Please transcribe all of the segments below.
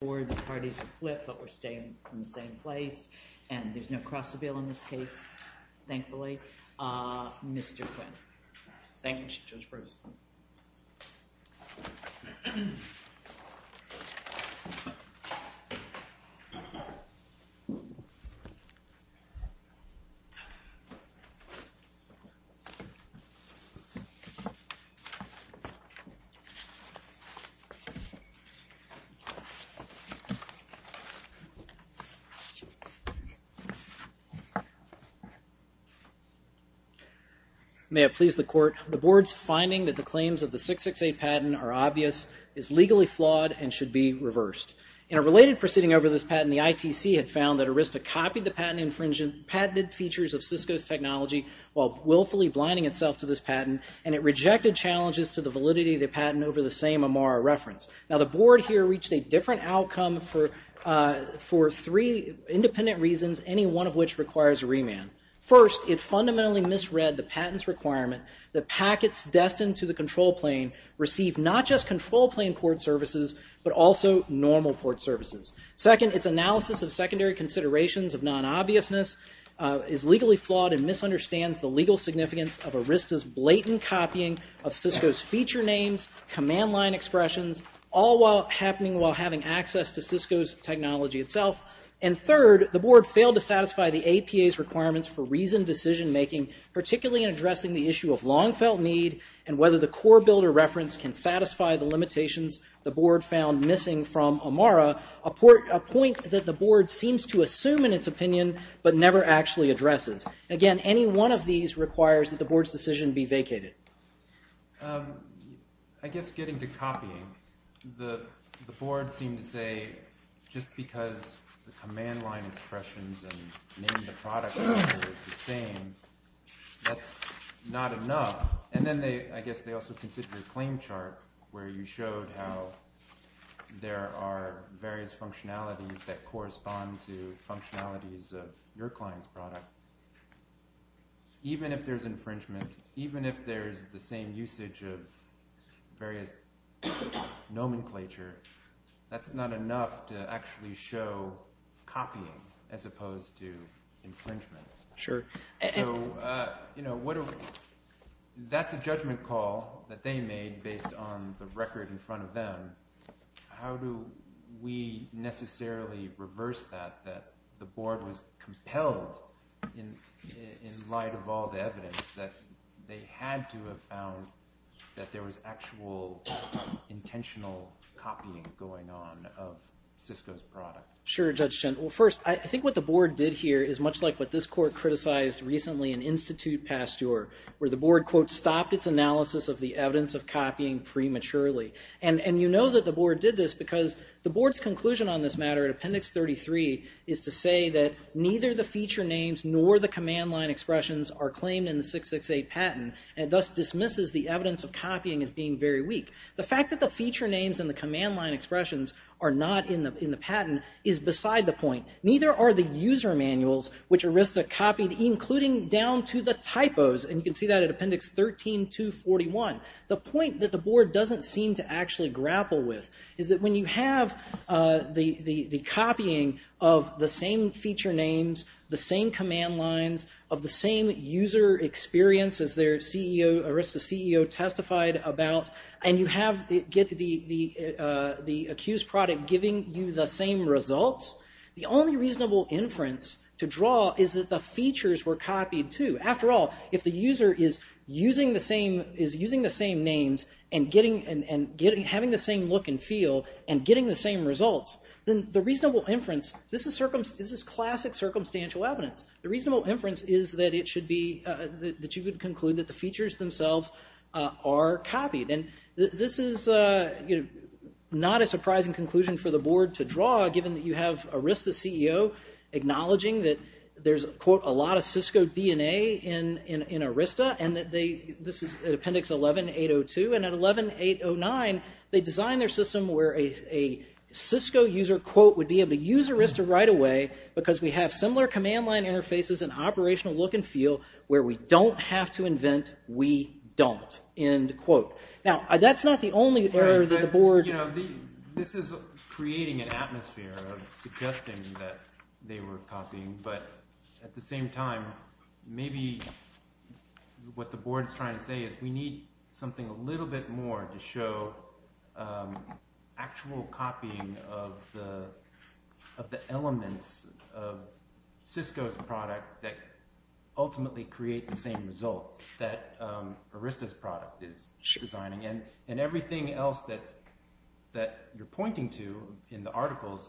The parties have flipped, but we're staying in the same place, and there's no cross-avail in this case, thankfully. Mr. Quinn. Thank you, Judge Bruce. May it please the Court, the Board's finding that the claims of the 668 patent are obvious is legally flawed and should be reversed. In a related proceeding over this patent, the ITC had found that Arista copied the patented features of Cisco's technology while willfully blinding itself to this patent, and it rejected challenges to the validity of the patent over the same Amara reference. Now, the Board here reached a different outcome for three independent reasons, any one of which requires a remand. First, it fundamentally misread the patent's requirement that packets destined to the control plane receive not just control plane port services, but also normal port services. Second, its analysis of secondary considerations of non-obviousness is legally flawed and misunderstands the legal significance of Arista's blatant copying of Cisco's feature names, command line expressions, all while happening while having access to Cisco's technology itself. And third, the Board failed to satisfy the APA's requirements for reasoned decision-making, particularly in addressing the issue of long-felt need and whether the core builder reference can satisfy the limitations the Board found missing from Amara, a point that the Board seems to assume in its opinion, but never actually addresses. Again, any one of these requires that the Board's decision be vacated. I guess getting to copying, the Board seemed to say just because the command line expressions and name of the product are the same, that's not enough. And then I guess they also considered the claim chart where you showed how there are various functionalities that correspond to functionalities of your client's product. Even if there's infringement, even if there's the same usage of various nomenclature, that's not enough to actually show copying as opposed to infringement. So that's a judgment call that they made based on the record in front of them. How do we necessarily reverse that, that the Board was compelled, in light of all the evidence, that they had to have found that there was actual intentional copying going on of Cisco's product? Sure, Judge Chen. Well, first, I think what the Board did here is much like what this court criticized recently in Institute Pasteur, where the Board, quote, stopped its analysis of the evidence of copying prematurely. And you know that the Board did this because the Board's conclusion on this matter in Appendix 33 is to say that neither the feature names nor the command line expressions are claimed in the 668 patent, and thus dismisses the evidence of copying as being very weak. The fact that the feature names and the command line expressions are not in the patent is beside the point. Neither are the user manuals which Arista copied, including down to the typos, and you can see that at Appendix 13-241. The point that the Board doesn't seem to actually grapple with is that when you have the copying of the same feature names, the same command lines, of the same user experience as their CEO, Arista's CEO, testified about, and you have the accused product giving you the same results, the only reasonable inference to draw is that the features were copied too. After all, if the user is using the same names and having the same look and feel and getting the same results, then the reasonable inference, this is classic circumstantial evidence. The reasonable inference is that you would conclude that the features themselves are copied. This is not a surprising conclusion for the Board to draw, given that you have Arista's CEO acknowledging that there's, quote, a lot of Cisco DNA in Arista, and this is at Appendix 11-802, and at 11-809, they designed their system where a Cisco user, quote, would be able to use Arista right away because we have similar command line interfaces and operational look and feel where we don't have to invent, we don't, end quote. Now, that's not the only error that the Board... This is creating an atmosphere of suggesting that they were copying, but at the same time, maybe what the Board's trying to say is we need something a little bit more to show actual copying of the elements of Cisco's product that ultimately create the same result that Arista's product is designing. And everything else that you're pointing to in the articles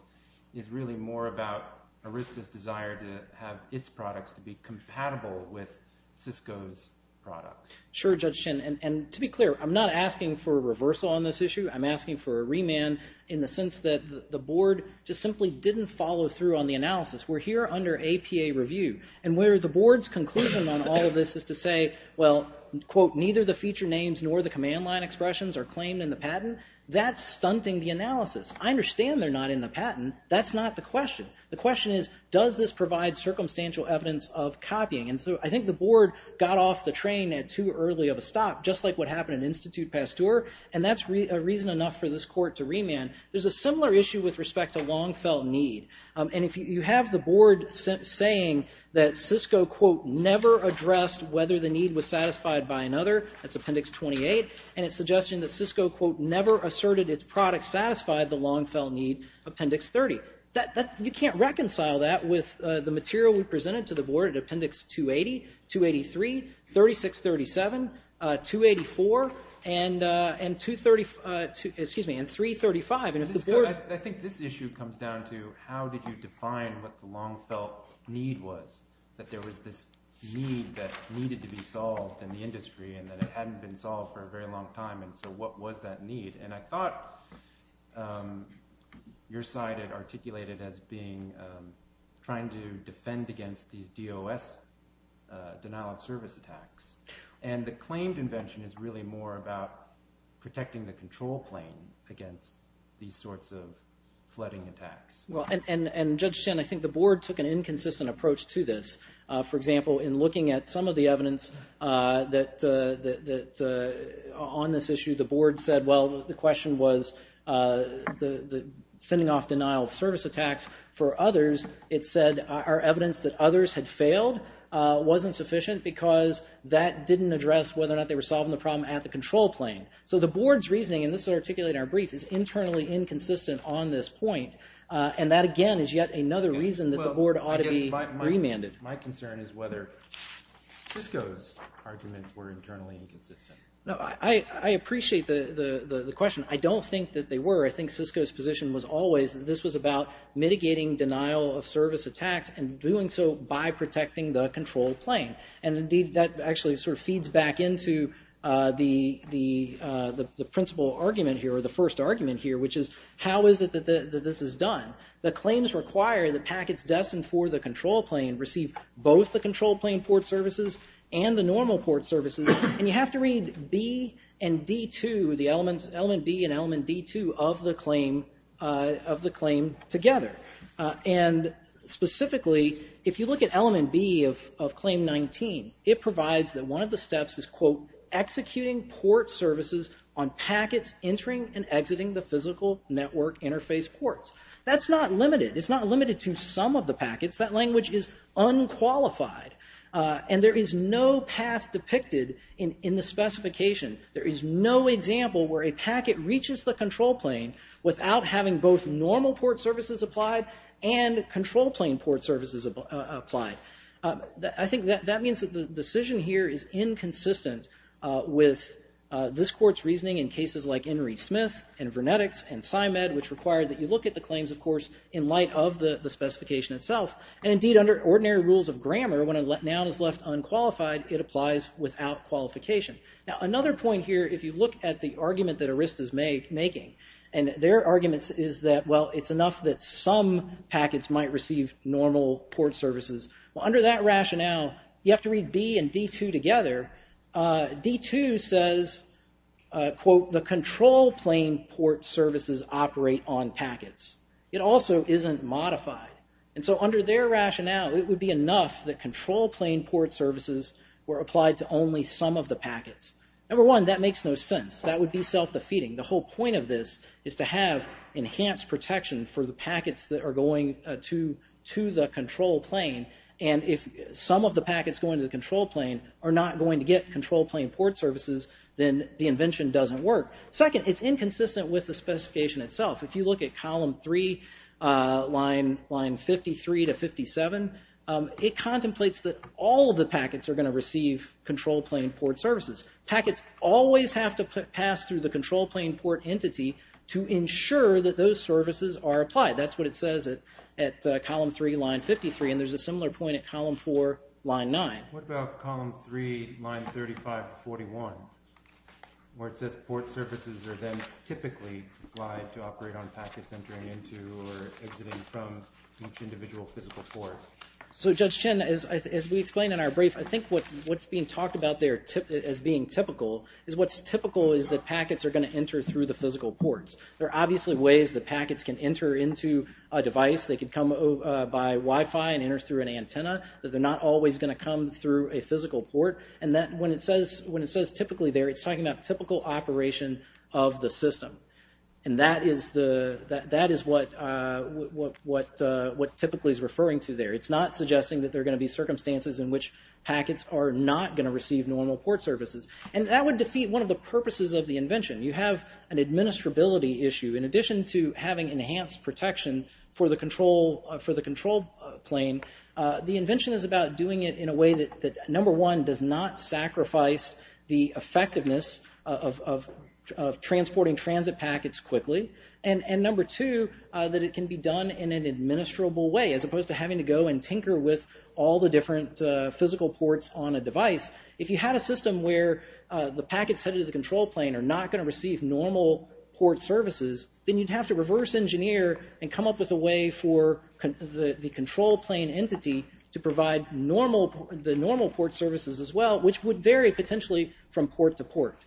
is really more about Arista's desire to have its products to be compatible with Cisco's products. Sure, Judge Shin, and to be clear, I'm not asking for a reversal on this issue. I'm asking for a remand in the sense that the Board just simply didn't follow through on the analysis. We're here under APA review, and where the Board's conclusion on all of this is to say, well, quote, neither the feature names nor the command line expressions are claimed in the patent. That's stunting the analysis. I understand they're not in the patent. That's not the question. The question is, does this provide circumstantial evidence of copying? And so I think the Board got off the train at too early of a stop, just like what happened in Institut Pasteur, and that's a reason enough for this court to remand. There's a similar issue with respect to long-felt need. And if you have the Board saying that Cisco, quote, never addressed whether the need was satisfied by another, that's Appendix 28, and it's suggesting that Cisco, quote, never asserted its products satisfied the long-felt need, Appendix 30. You can't reconcile that with the material we presented to the Board at Appendix 280, 283, 3637, 284, and 235. I think this issue comes down to how did you define what the long-felt need was, that there was this need that needed to be solved in the industry and that it hadn't been solved for a very long time, and so what was that need? And I thought your side had articulated as being trying to defend against these DOS denial-of-service attacks, and the claimed invention is really more about protecting the control plane against these sorts of flooding attacks. Well, and Judge Chen, I think the Board took an inconsistent approach to this. For example, in looking at some of the evidence on this issue, the Board said, well, the question was the fending off denial-of-service attacks for others. It said our evidence that others had failed wasn't sufficient because that didn't address whether or not they were solving the problem at the control plane. So the Board's reasoning, and this is articulated in our brief, is internally inconsistent on this point, and that, again, is yet another reason that the Board ought to be remanded. My concern is whether Cisco's arguments were internally inconsistent. No, I appreciate the question. I don't think that they were. I think Cisco's position was always that this was about mitigating denial-of-service attacks and doing so by protecting the control plane, and indeed that actually sort of feeds back into the principal argument here, or the first argument here, which is how is it that this is done? The claims require that packets destined for the control plane receive both the control plane port services and the normal port services, and you have to read B and D2, the element B and element D2 of the claim together. And specifically, if you look at element B of claim 19, it provides that one of the steps is, quote, executing port services on packets entering and exiting the physical network interface ports. That's not limited. It's not limited to some of the packets. That language is unqualified, and there is no path depicted in the specification. There is no example where a packet reaches the control plane without having both normal port services applied and control plane port services applied. I think that means that the decision here is inconsistent with this court's reasoning in cases like Enry-Smith and Vernetics and Simed, which required that you look at the claims, of course, in light of the specification itself. And indeed, under ordinary rules of grammar, when a noun is left unqualified, it applies without qualification. Now, another point here, if you look at the argument that Arista's making, and their argument is that, well, it's enough that some packets might receive normal port services. Well, under that rationale, you have to read B and D2 together. D2 says, quote, the control plane port services operate on packets. It also isn't modified. And so under their rationale, it would be enough that control plane port services were applied to only some of the packets. Number one, that makes no sense. That would be self-defeating. The whole point of this is to have enhanced protection for the packets that are going to the control plane. And if some of the packets going to the control plane are not going to get control plane port services, then the invention doesn't work. Second, it's inconsistent with the specification itself. If you look at column three, line 53 to 57, it contemplates that all of the packets are going to receive control plane port services. Packets always have to pass through the control plane port entity to ensure that those services are applied. That's what it says at column three, line 53. And there's a similar point at column four, line nine. What about column three, line 35 to 41, where it says port services are then typically applied to operate on packets entering into or exiting from each individual physical port? So Judge Chin, as we explained in our brief, I think what's being talked about there as being typical is what's typical is that packets are going to enter through the physical ports. There are obviously ways that packets can enter into a device. They could come by Wi-Fi and enter through an antenna. They're not always going to come through a physical port. And when it says typically there, it's talking about typical operation of the system. And that is what typically is referring to there. It's not suggesting that there are going to be circumstances in which packets are not going to receive normal port services. And that would defeat one of the purposes of the invention. You have an administrability issue. In addition to having enhanced protection for the control plane, the invention is about doing it in a way that, number one, does not sacrifice the effectiveness of transporting transit packets quickly. And number two, that it can be done in an administrable way, as opposed to having to go and tinker with all the different physical ports on a device. If you had a system where the packets headed to the control plane are not going to receive normal port services, then you'd have to reverse engineer and come up with a way for the control plane entity to provide the normal port services as well, which would vary potentially from port to port.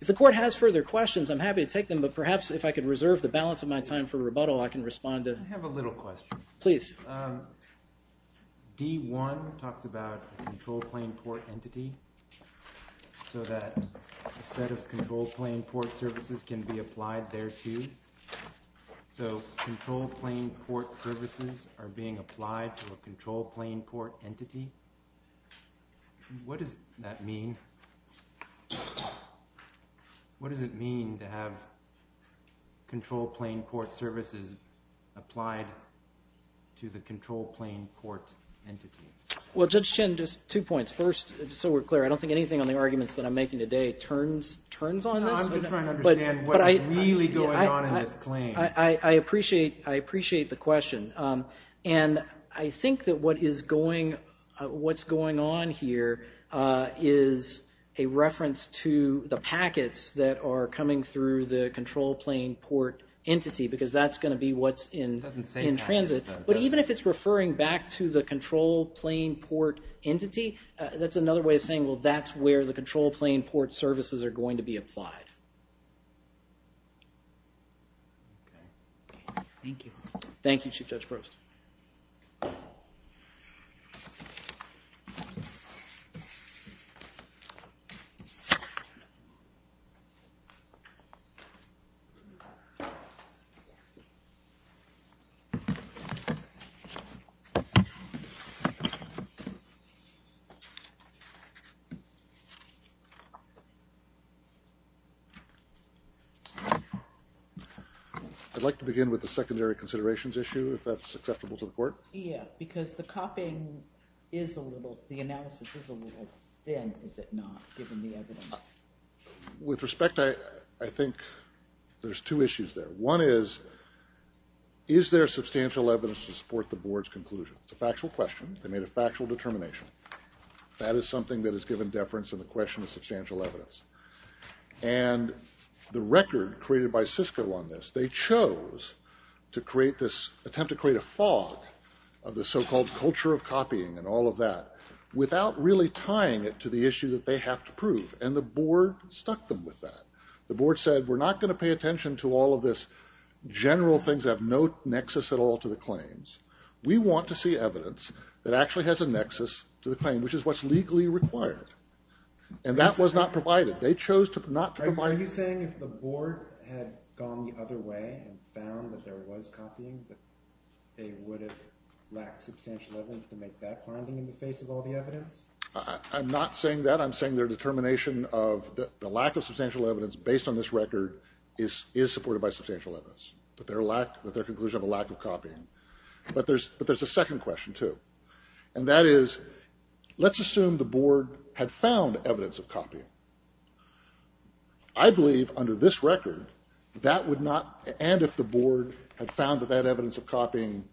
If the court has further questions, I'm happy to take them. But perhaps if I could reserve the balance of my time for rebuttal, I can respond to... I have a little question. Please. D1 talks about a control plane port entity, so that a set of control plane port services can be applied thereto. So control plane port services are being applied to a control plane port entity. What does that mean? What does it mean to have control plane port services applied to the control plane port entity? Well, Judge Chin, just two points. First, so we're clear, I don't think anything on the arguments that I'm making today turns on this. No, I'm just trying to understand what is really going on in this claim. I appreciate the question. And I think that what's going on here is a reference to the packets that are coming through the control plane port entity, because that's going to be what's in transit. But even if it's referring back to the control plane port entity, that's another way of saying, well, that's where the control plane port services are going to be applied. Okay. Thank you. Thank you, Chief Judge Proust. I'd like to begin with the secondary considerations issue. Is that acceptable to the court? Yeah, because the copying is a little, the analysis is a little thin, is it not, given the evidence? With respect, I think there's two issues there. One is, is there substantial evidence to support the board's conclusion? It's a factual question. They made a factual determination. That is something that is given deference in the question of substantial evidence. And the record created by Cisco on this, they chose to create this, attempt to create a fog of the so-called culture of copying and all of that, without really tying it to the issue that they have to prove. And the board stuck them with that. The board said, we're not going to pay attention to all of this general things that have no nexus at all to the claims. We want to see evidence that actually has a nexus to the claim, which is what's legally required. And that was not provided. They chose to not provide. Are you saying if the board had gone the other way and found that there was copying, that they would have lacked substantial evidence to make that finding in the face of all the evidence? I'm not saying that. I'm saying their determination of the lack of substantial evidence based on this record is supported by substantial evidence, that their conclusion of a lack of copying. But there's a second question, too. And that is, let's assume the board had found evidence of copying. I believe under this record, that would not, and if the board had found that that evidence of copying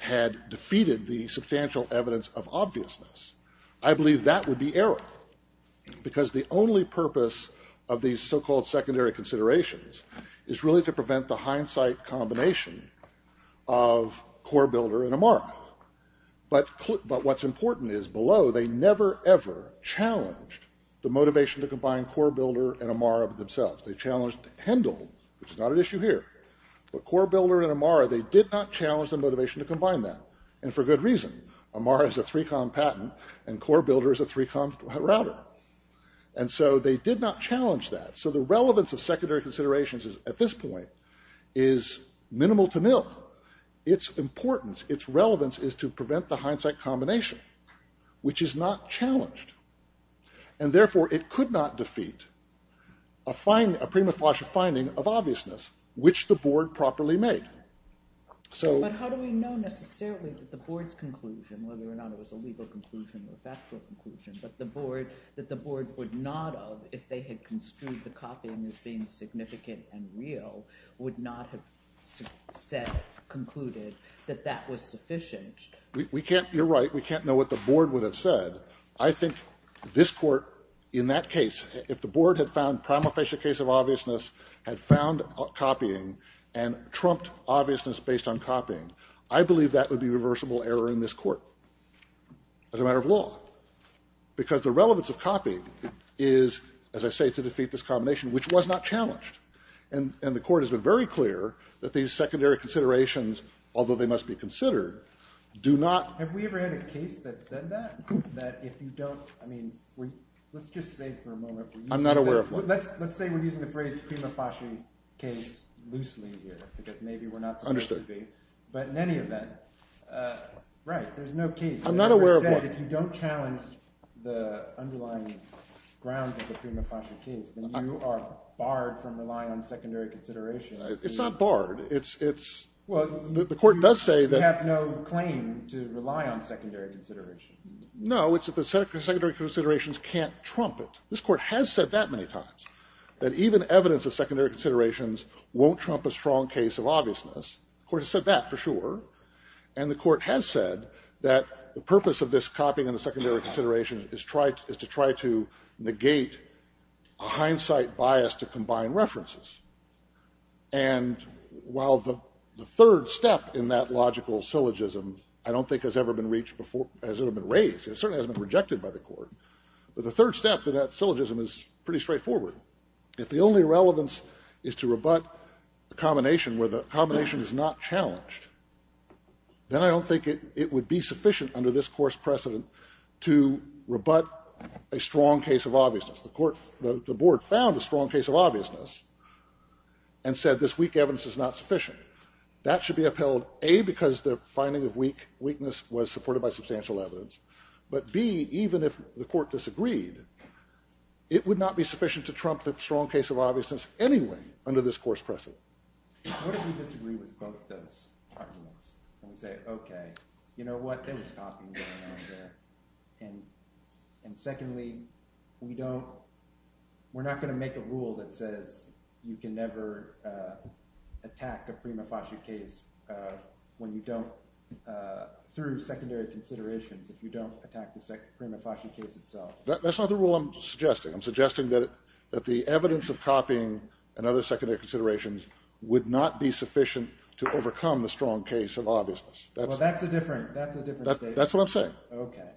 had defeated the substantial evidence of obviousness, I believe that would be error. Because the only purpose of these so-called secondary considerations is really to prevent the hindsight combination of core builder and Amara. But what's important is below, they never ever challenged the motivation to combine core builder and Amara themselves. They challenged Hendel, which is not an issue here. But core builder and Amara, they did not challenge the motivation to combine that. And for good reason. Amara is a 3Com patent, and core builder is a 3Com router. And so they did not challenge that. So the relevance of secondary considerations at this point is minimal to nil. Its importance, its relevance is to prevent the hindsight combination, which is not challenged. And therefore it could not defeat a prima facie finding of obviousness, which the board properly made. But how do we know necessarily that the board's conclusion, whether or not it was a legal conclusion or factual conclusion, but that the board would not have, if they had construed the copying as being significant and real, would not have concluded that that was sufficient? You're right. We can't know what the board would have said. I think this court in that case, if the board had found prima facie case of obviousness, had found copying, and trumped obviousness based on copying, I believe that would be reversible error in this court as a matter of law. Because the relevance of copying is, as I say, to defeat this combination, which was not challenged. And the court has been very clear that these secondary considerations, although they must be considered, do not. Have we ever had a case that said that? That if you don't, I mean, let's just say for a moment. I'm not aware of one. Let's say we're using the phrase prima facie case loosely here because maybe we're not supposed to be. Understood. But in any event, right, there's no case. I'm not aware of one. But if you don't challenge the underlying grounds of the prima facie case, then you are barred from relying on secondary considerations. It's not barred. It's the court does say that. You have no claim to rely on secondary considerations. No. It's that the secondary considerations can't trump it. This court has said that many times, that even evidence of secondary considerations won't trump a strong case of obviousness. The court has said that for sure. And the court has said that the purpose of this copying of the secondary consideration is to try to negate a hindsight bias to combine references. And while the third step in that logical syllogism I don't think has ever been reached before, has ever been raised, it certainly hasn't been rejected by the court, but the third step in that syllogism is pretty straightforward. If the only relevance is to rebut the combination where the combination is not challenged, then I don't think it would be sufficient under this course precedent to rebut a strong case of obviousness. The board found a strong case of obviousness and said this weak evidence is not sufficient. That should be upheld, A, because the finding of weakness was supported by substantial evidence, but, B, even if the court disagreed, it would not be sufficient to trump the strong case of obviousness anyway under this course precedent. What if we disagree with both those arguments and say, okay, you know what? There was copying going on there. And secondly, we don't – we're not going to make a rule that says you can never attack a prima facie case when you don't – through secondary considerations if you don't attack the prima facie case itself. That's not the rule I'm suggesting. I'm suggesting that the evidence of copying and other secondary considerations would not be sufficient to overcome the strong case of obviousness. Well, that's a different statement. That's what I'm saying. Okay.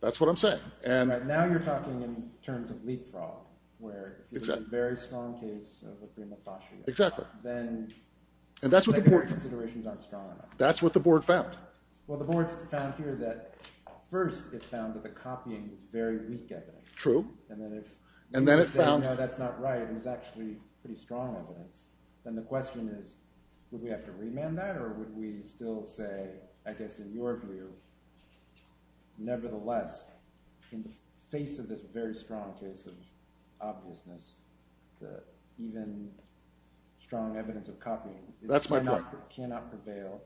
That's what I'm saying. Now you're talking in terms of leapfrog where if you have a very strong case of a prima facie, then the secondary considerations aren't strong enough. That's what the board found. Well, the board found here that first it found that the copying was very weak evidence. True. And then it found – No, that's not right. It was actually pretty strong evidence. Then the question is would we have to remand that or would we still say, I guess in your view, nevertheless in the face of this very strong case of obviousness that even strong evidence of copying – That's my point. – cannot prevail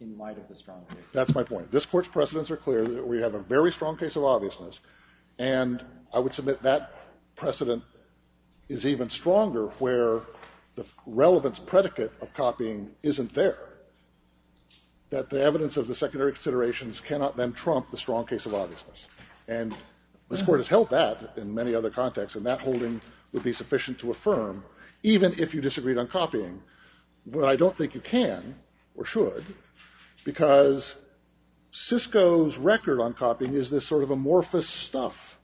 in light of the strong case. That's my point. This court's precedents are clear that we have a very strong case of obviousness, and I would submit that precedent is even stronger where the relevance predicate of copying isn't there, that the evidence of the secondary considerations cannot then trump the strong case of obviousness. And this court has held that in many other contexts, and that holding would be sufficient to affirm even if you disagreed on copying. But I don't think you can, or should, because Cisco's record on copying is this sort of amorphous stuff.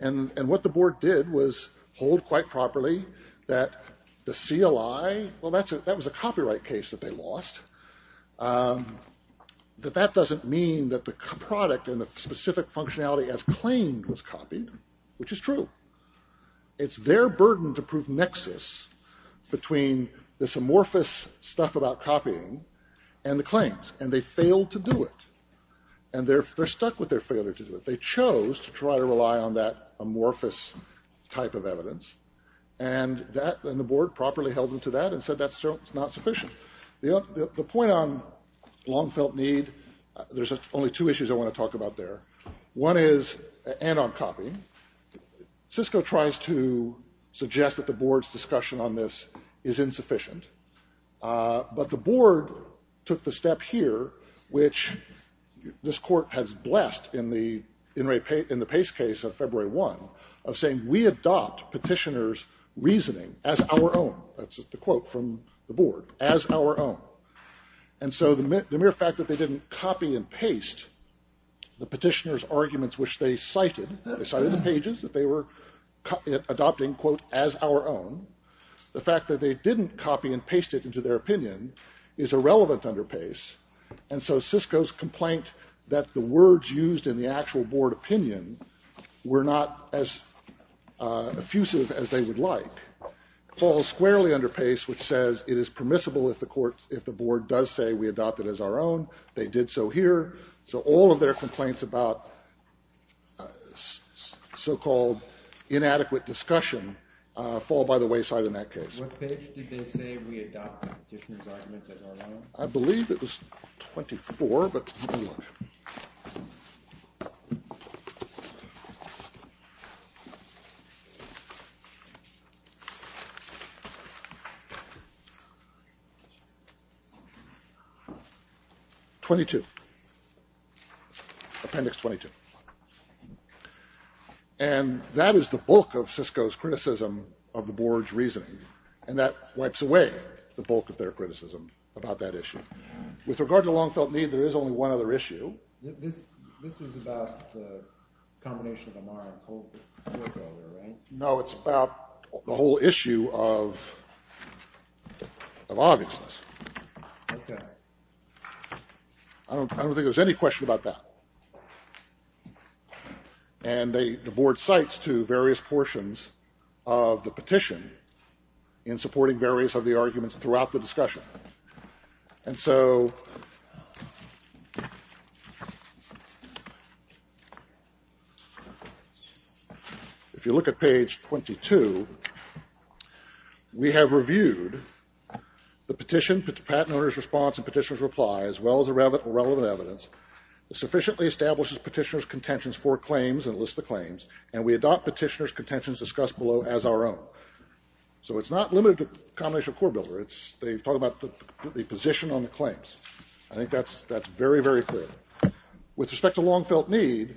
And what the board did was hold quite properly that the CLI – well, that was a copyright case that they lost – that that doesn't mean that the product and the specific functionality as claimed was copied, which is true. It's their burden to prove nexus between this amorphous stuff about copying and the claims, and they failed to do it. And they're stuck with their failure to do it. They chose to try to rely on that amorphous type of evidence, and the board properly held them to that and said that's not sufficient. The point on long-felt need, there's only two issues I want to talk about there. One is, and on copying, Cisco tries to suggest that the board's discussion on this is insufficient. But the board took the step here, which this court has blessed in the Pace case of February 1, of saying we adopt petitioners' reasoning as our own. That's the quote from the board, as our own. And so the mere fact that they didn't copy and paste the petitioners' arguments, which they cited – they cited the pages that they were adopting, quote, as our own – the fact that they didn't copy and paste it into their opinion is irrelevant under Pace. And so Cisco's complaint that the words used in the actual board opinion were not as effusive as they would like falls squarely under Pace, which says it is permissible if the board does say we adopt it as our own. They did so here. So all of their complaints about so-called inadequate discussion fall by the wayside in that case. What page did they say we adopted the petitioners' arguments as our own? I believe it was 24, but let me look. 22. Appendix 22. And that is the bulk of Cisco's criticism of the board's reasoning, and that wipes away the bulk of their criticism about that issue. With regard to Longfelt Need, there is only one other issue. This is about the combination of Amar and Kohlberg over there, right? No, it's about the whole issue of obviousness. Okay. I don't think there's any question about that. And the board cites two various portions of the petition in supporting various of the arguments throughout the discussion. And so if you look at page 22, we have reviewed the petition, the patent owner's response and petitioner's reply, as well as relevant evidence that sufficiently establishes petitioner's contentions for claims and lists the claims, and we adopt petitioner's contentions discussed below as our own. So it's not limited to combination of Kohlberg. They've talked about the position on the claims. I think that's very, very clear. With respect to Longfelt Need,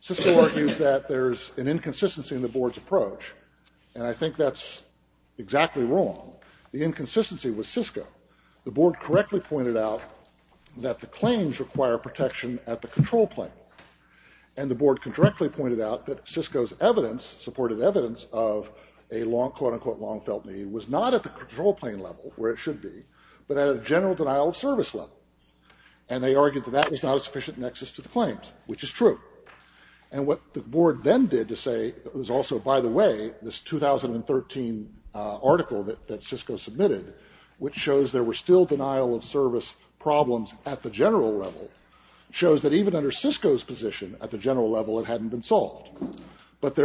Cisco argues that there's an inconsistency in the board's approach, and I think that's exactly wrong. The inconsistency was Cisco. The board correctly pointed out that the claims require protection at the control plane, and the board correctly pointed out that Cisco's evidence, supported evidence, of a quote-unquote Longfelt Need was not at the control plane level, where it should be, but at a general denial of service level. And they argued that that was not a sufficient nexus to the claims, which is true. And what the board then did to say it was also, by the way, this 2013 article that Cisco submitted, which shows there were still denial of service problems at the general level, shows that even under Cisco's position at the general level, it hadn't been solved. But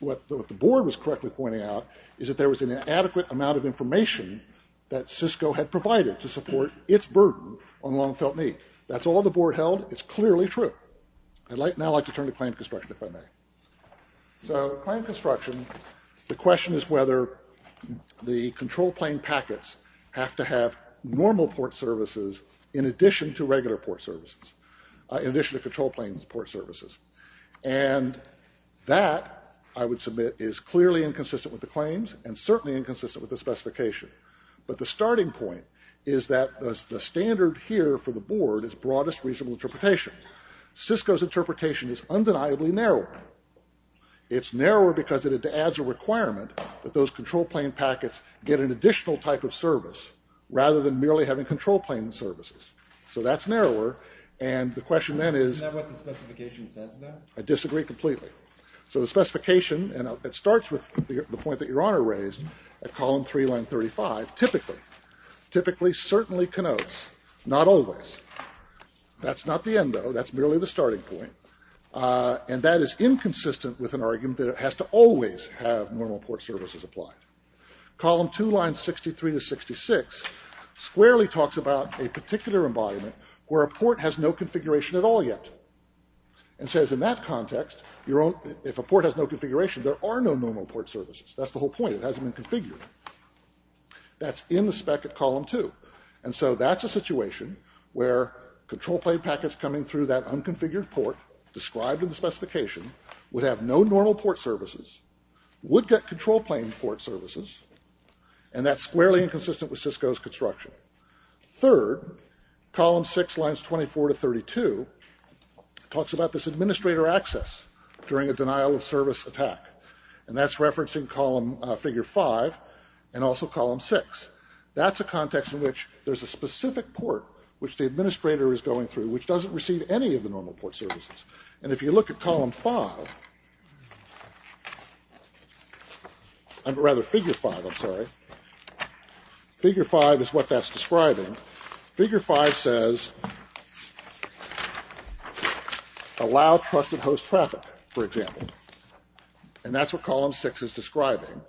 what the board was correctly pointing out is that there was an inadequate amount of information that Cisco had provided to support its burden on Longfelt Need. That's all the board held. It's clearly true. I'd now like to turn to claim construction, if I may. So, claim construction, the question is whether the control plane packets have to have normal port services in addition to regular port services, in addition to control plane port services. And that, I would submit, is clearly inconsistent with the claims, and certainly inconsistent with the specification. But the starting point is that the standard here for the board is broadest reasonable interpretation. Cisco's interpretation is undeniably narrower. It's narrower because it adds a requirement that those control plane packets get an additional type of service, rather than merely having control plane services. So that's narrower, and the question then is... Is that what the specification says then? I disagree completely. So the specification, and it starts with the point that Your Honor raised at column 3, line 35, typically, typically certainly connotes, not always, that's not the end though, that's merely the starting point. And that is inconsistent with an argument that it has to always have normal port services applied. Column 2, line 63 to 66, squarely talks about a particular embodiment where a port has no configuration at all yet. And says in that context, if a port has no configuration, there are no normal port services. That's the whole point, it hasn't been configured. That's in the spec at column 2. And so that's a situation where control plane packets coming through that unconfigured port, described in the specification, would have no normal port services, would get control plane port services, and that's squarely inconsistent with Cisco's construction. Third, column 6, lines 24 to 32, talks about this administrator access during a denial of service attack. And that's referencing column, figure 5, and also column 6. That's a context in which there's a specific port which the administrator is going through, which doesn't receive any of the normal port services. And if you look at column 5, rather figure 5, I'm sorry, figure 5 is what that's describing. Figure 5 says, allow trusted host traffic, for example. And that's what column 6 is describing,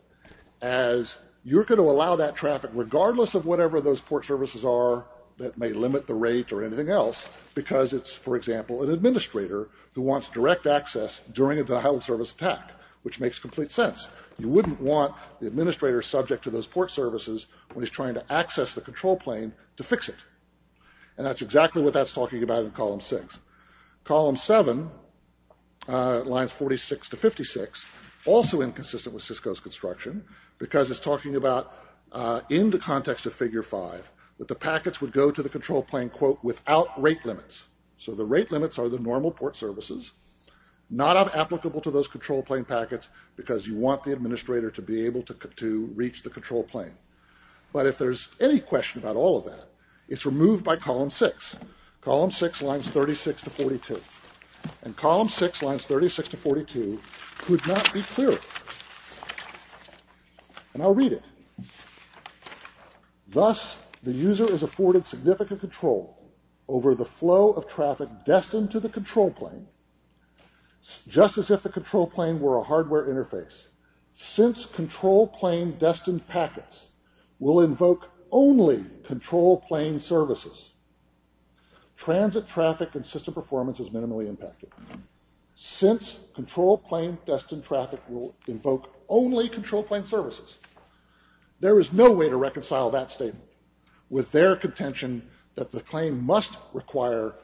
as you're going to allow that traffic, regardless of whatever those port services are that may limit the rate or anything else, because it's, for example, an administrator who wants direct access during a denial of service attack, which makes complete sense. You wouldn't want the administrator subject to those port services when he's trying to access the control plane to fix it. And that's exactly what that's talking about in column 6. Column 7, lines 46 to 56, also inconsistent with Cisco's construction, because it's talking about, in the context of figure 5, that the packets would go to the control plane, quote, without rate limits. So the rate limits are the normal port services, not applicable to those control plane packets, because you want the administrator to be able to reach the control plane. But if there's any question about all of that, it's removed by column 6. Column 6, lines 36 to 42. And column 6, lines 36 to 42, could not be clearer. And I'll read it. Thus, the user is afforded significant control over the flow of traffic destined to the control plane, just as if the control plane were a hardware interface, since control plane-destined packets will invoke only control plane services, transit traffic and system performance is minimally impacted, since control plane-destined traffic will invoke only control plane services. There is no way to reconcile that statement with their contention that the plane must require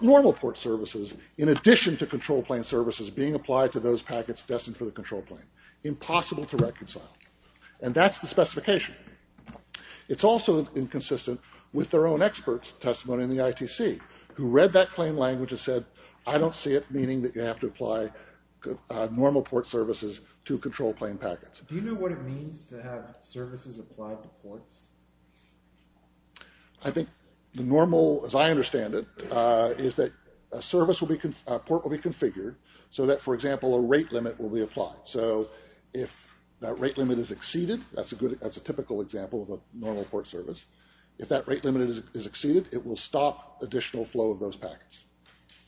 normal port services, in addition to control plane services, being applied to those packets destined for the control plane. Impossible to reconcile. And that's the specification. It's also inconsistent with their own expert's testimony in the ITC, who read that claim language and said, I don't see it meaning that you have to apply normal port services to control plane packets. Do you know what it means to have services applied to ports? I think the normal, as I understand it, is that a port will be configured, so that, for example, a rate limit will be applied. So, if that rate limit is exceeded, that's a typical example of a normal port service, if that rate limit is exceeded, it will stop additional flow of those packets.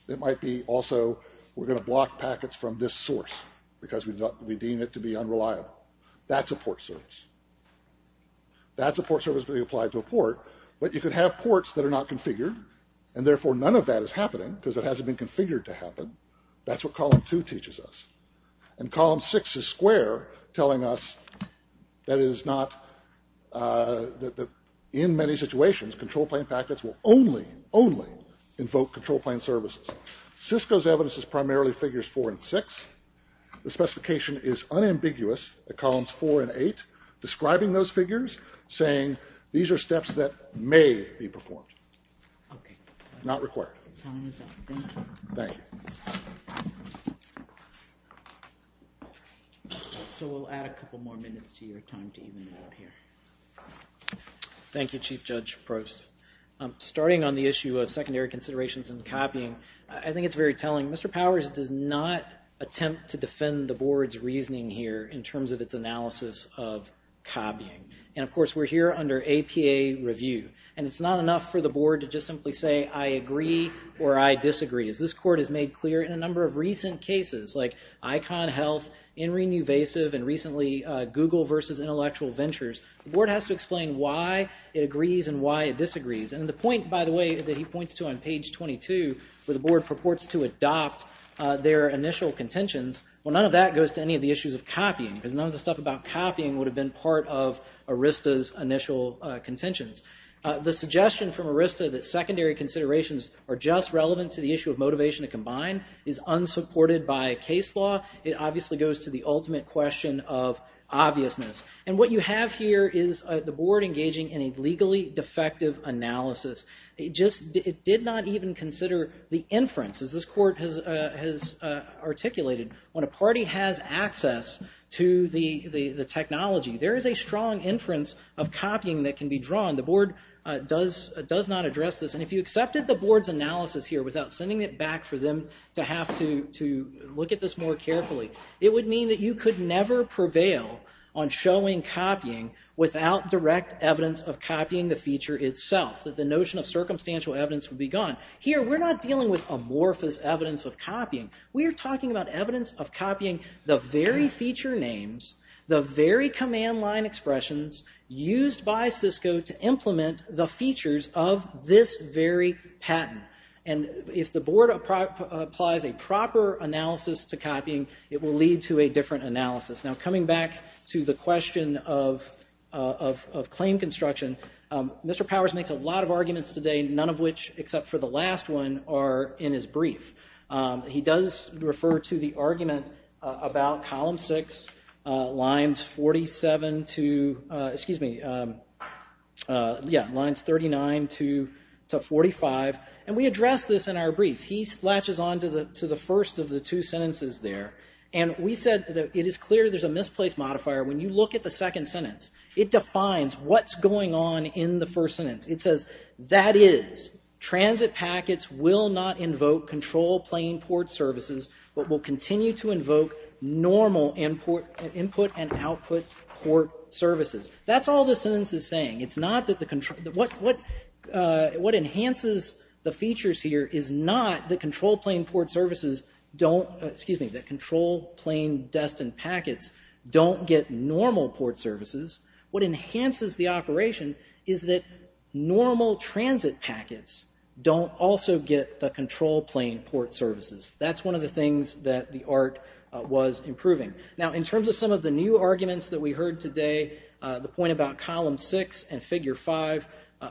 It might be also, we're going to block packets from this source, because we deem it to be unreliable. That's a port service. That's a port service being applied to a port, but you could have ports that are not configured, and therefore none of that is happening, because it hasn't been configured to happen. That's what column 2 teaches us. And column 6 is square, telling us that it is not, that in many situations, control plane packets will only, only invoke control plane services. Cisco's evidence is primarily figures 4 and 6. The specification is unambiguous at columns 4 and 8, describing those figures, saying these are steps that may be performed. Okay. Not required. Time is up. Thank you. Thank you. So, we'll add a couple more minutes to your time to even out here. Thank you, Chief Judge Prost. Starting on the issue of secondary considerations and copying, I think it's very telling. Mr. Powers does not attempt to defend the Board's reasoning here, in terms of its analysis of copying. And, of course, we're here under APA review. And it's not enough for the Board to just simply say, I agree or I disagree. As this Court has made clear in a number of recent cases, like Icon Health, InRenewvasive, and recently Google versus Intellectual Ventures, the Board has to explain why it agrees and why it disagrees. And the point, by the way, that he points to on page 22, where the Board purports to adopt their initial contentions, well, none of that goes to any of the issues of copying. Because none of the stuff about copying would have been part of ERISTA's initial contentions. The suggestion from ERISTA that secondary considerations are just relevant to the issue of motivation to combine is unsupported by case law. It obviously goes to the ultimate question of obviousness. And what you have here is the Board engaging in a legally defective analysis. It did not even consider the inference. As this Court has articulated, when a party has access to the technology, there is a strong inference of copying that can be drawn. The Board does not address this. And if you accepted the Board's analysis here without sending it back for them to have to look at this more carefully, it would mean that you could never prevail on showing copying without direct evidence of copying the feature itself. That the notion of circumstantial evidence would be gone. Here, we're not dealing with amorphous evidence of copying. We are talking about evidence of copying the very feature names, the very command line expressions used by Cisco to implement the features of this very patent. And if the Board applies a proper analysis to copying, it will lead to a different analysis. Now, coming back to the question of claim construction, Mr. Powers makes a lot of arguments today, none of which, except for the last one, are in his brief. He does refer to the argument about Column 6, Lines 37 to 45. And we address this in our brief. He latches on to the first of the two sentences there. And we said that it is clear there's a misplaced modifier when you look at the second sentence. It defines what's going on in the first sentence. It says, that is, transit packets will not invoke control plane port services, but will continue to invoke normal input and output port services. That's all the sentence is saying. It's not that the control, what enhances the features here is not that control plane port services don't, excuse me, that control plane destined packets don't get normal port services. What enhances the operation is that normal transit packets don't also get the control plane port services. That's one of the things that the ART was improving. Now, in terms of some of the new arguments that we heard today, the point about Column 6 and Figure 5,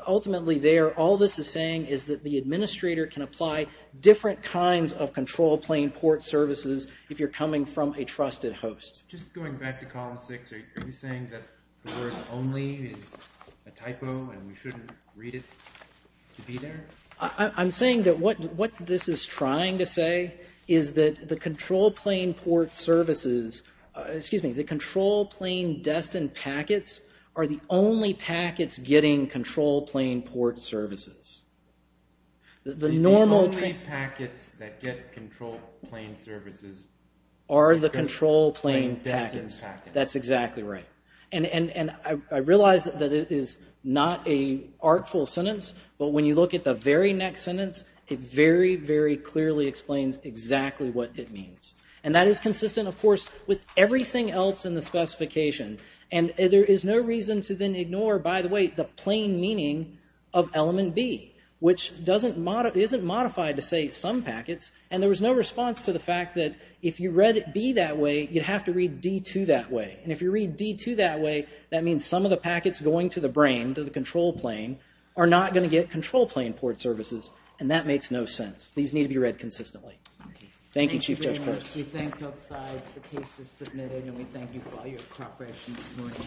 ultimately there all this is saying is that the administrator can apply different kinds of control plane port services if you're coming from a trusted host. Just going back to Column 6, are you saying that the word only is a typo and we shouldn't read it to be there? I'm saying that what this is trying to say is that the control plane port services, excuse me, the control plane destined packets are the only packets getting control plane port services. The only packets that get control plane services are the control plane packets. That's exactly right. I realize that it is not a artful sentence, but when you look at the very next sentence, it very, very clearly explains exactly what it means. That is consistent, of course, with everything else in the specification. There is no reason to then ignore, by the way, the plain meaning of element B, which isn't modified to say some packets, and there was no response to the fact that if you read B that way, you'd have to read D2 that way. If you read D2 that way, that means some of the packets going to the brain, to the control plane, are not going to get control plane port services, and that makes no sense. These need to be read consistently. Thank you, Chief Judge Karst. Thank you very much. We thank both sides. The case is submitted, and we thank you for all your cooperation this morning.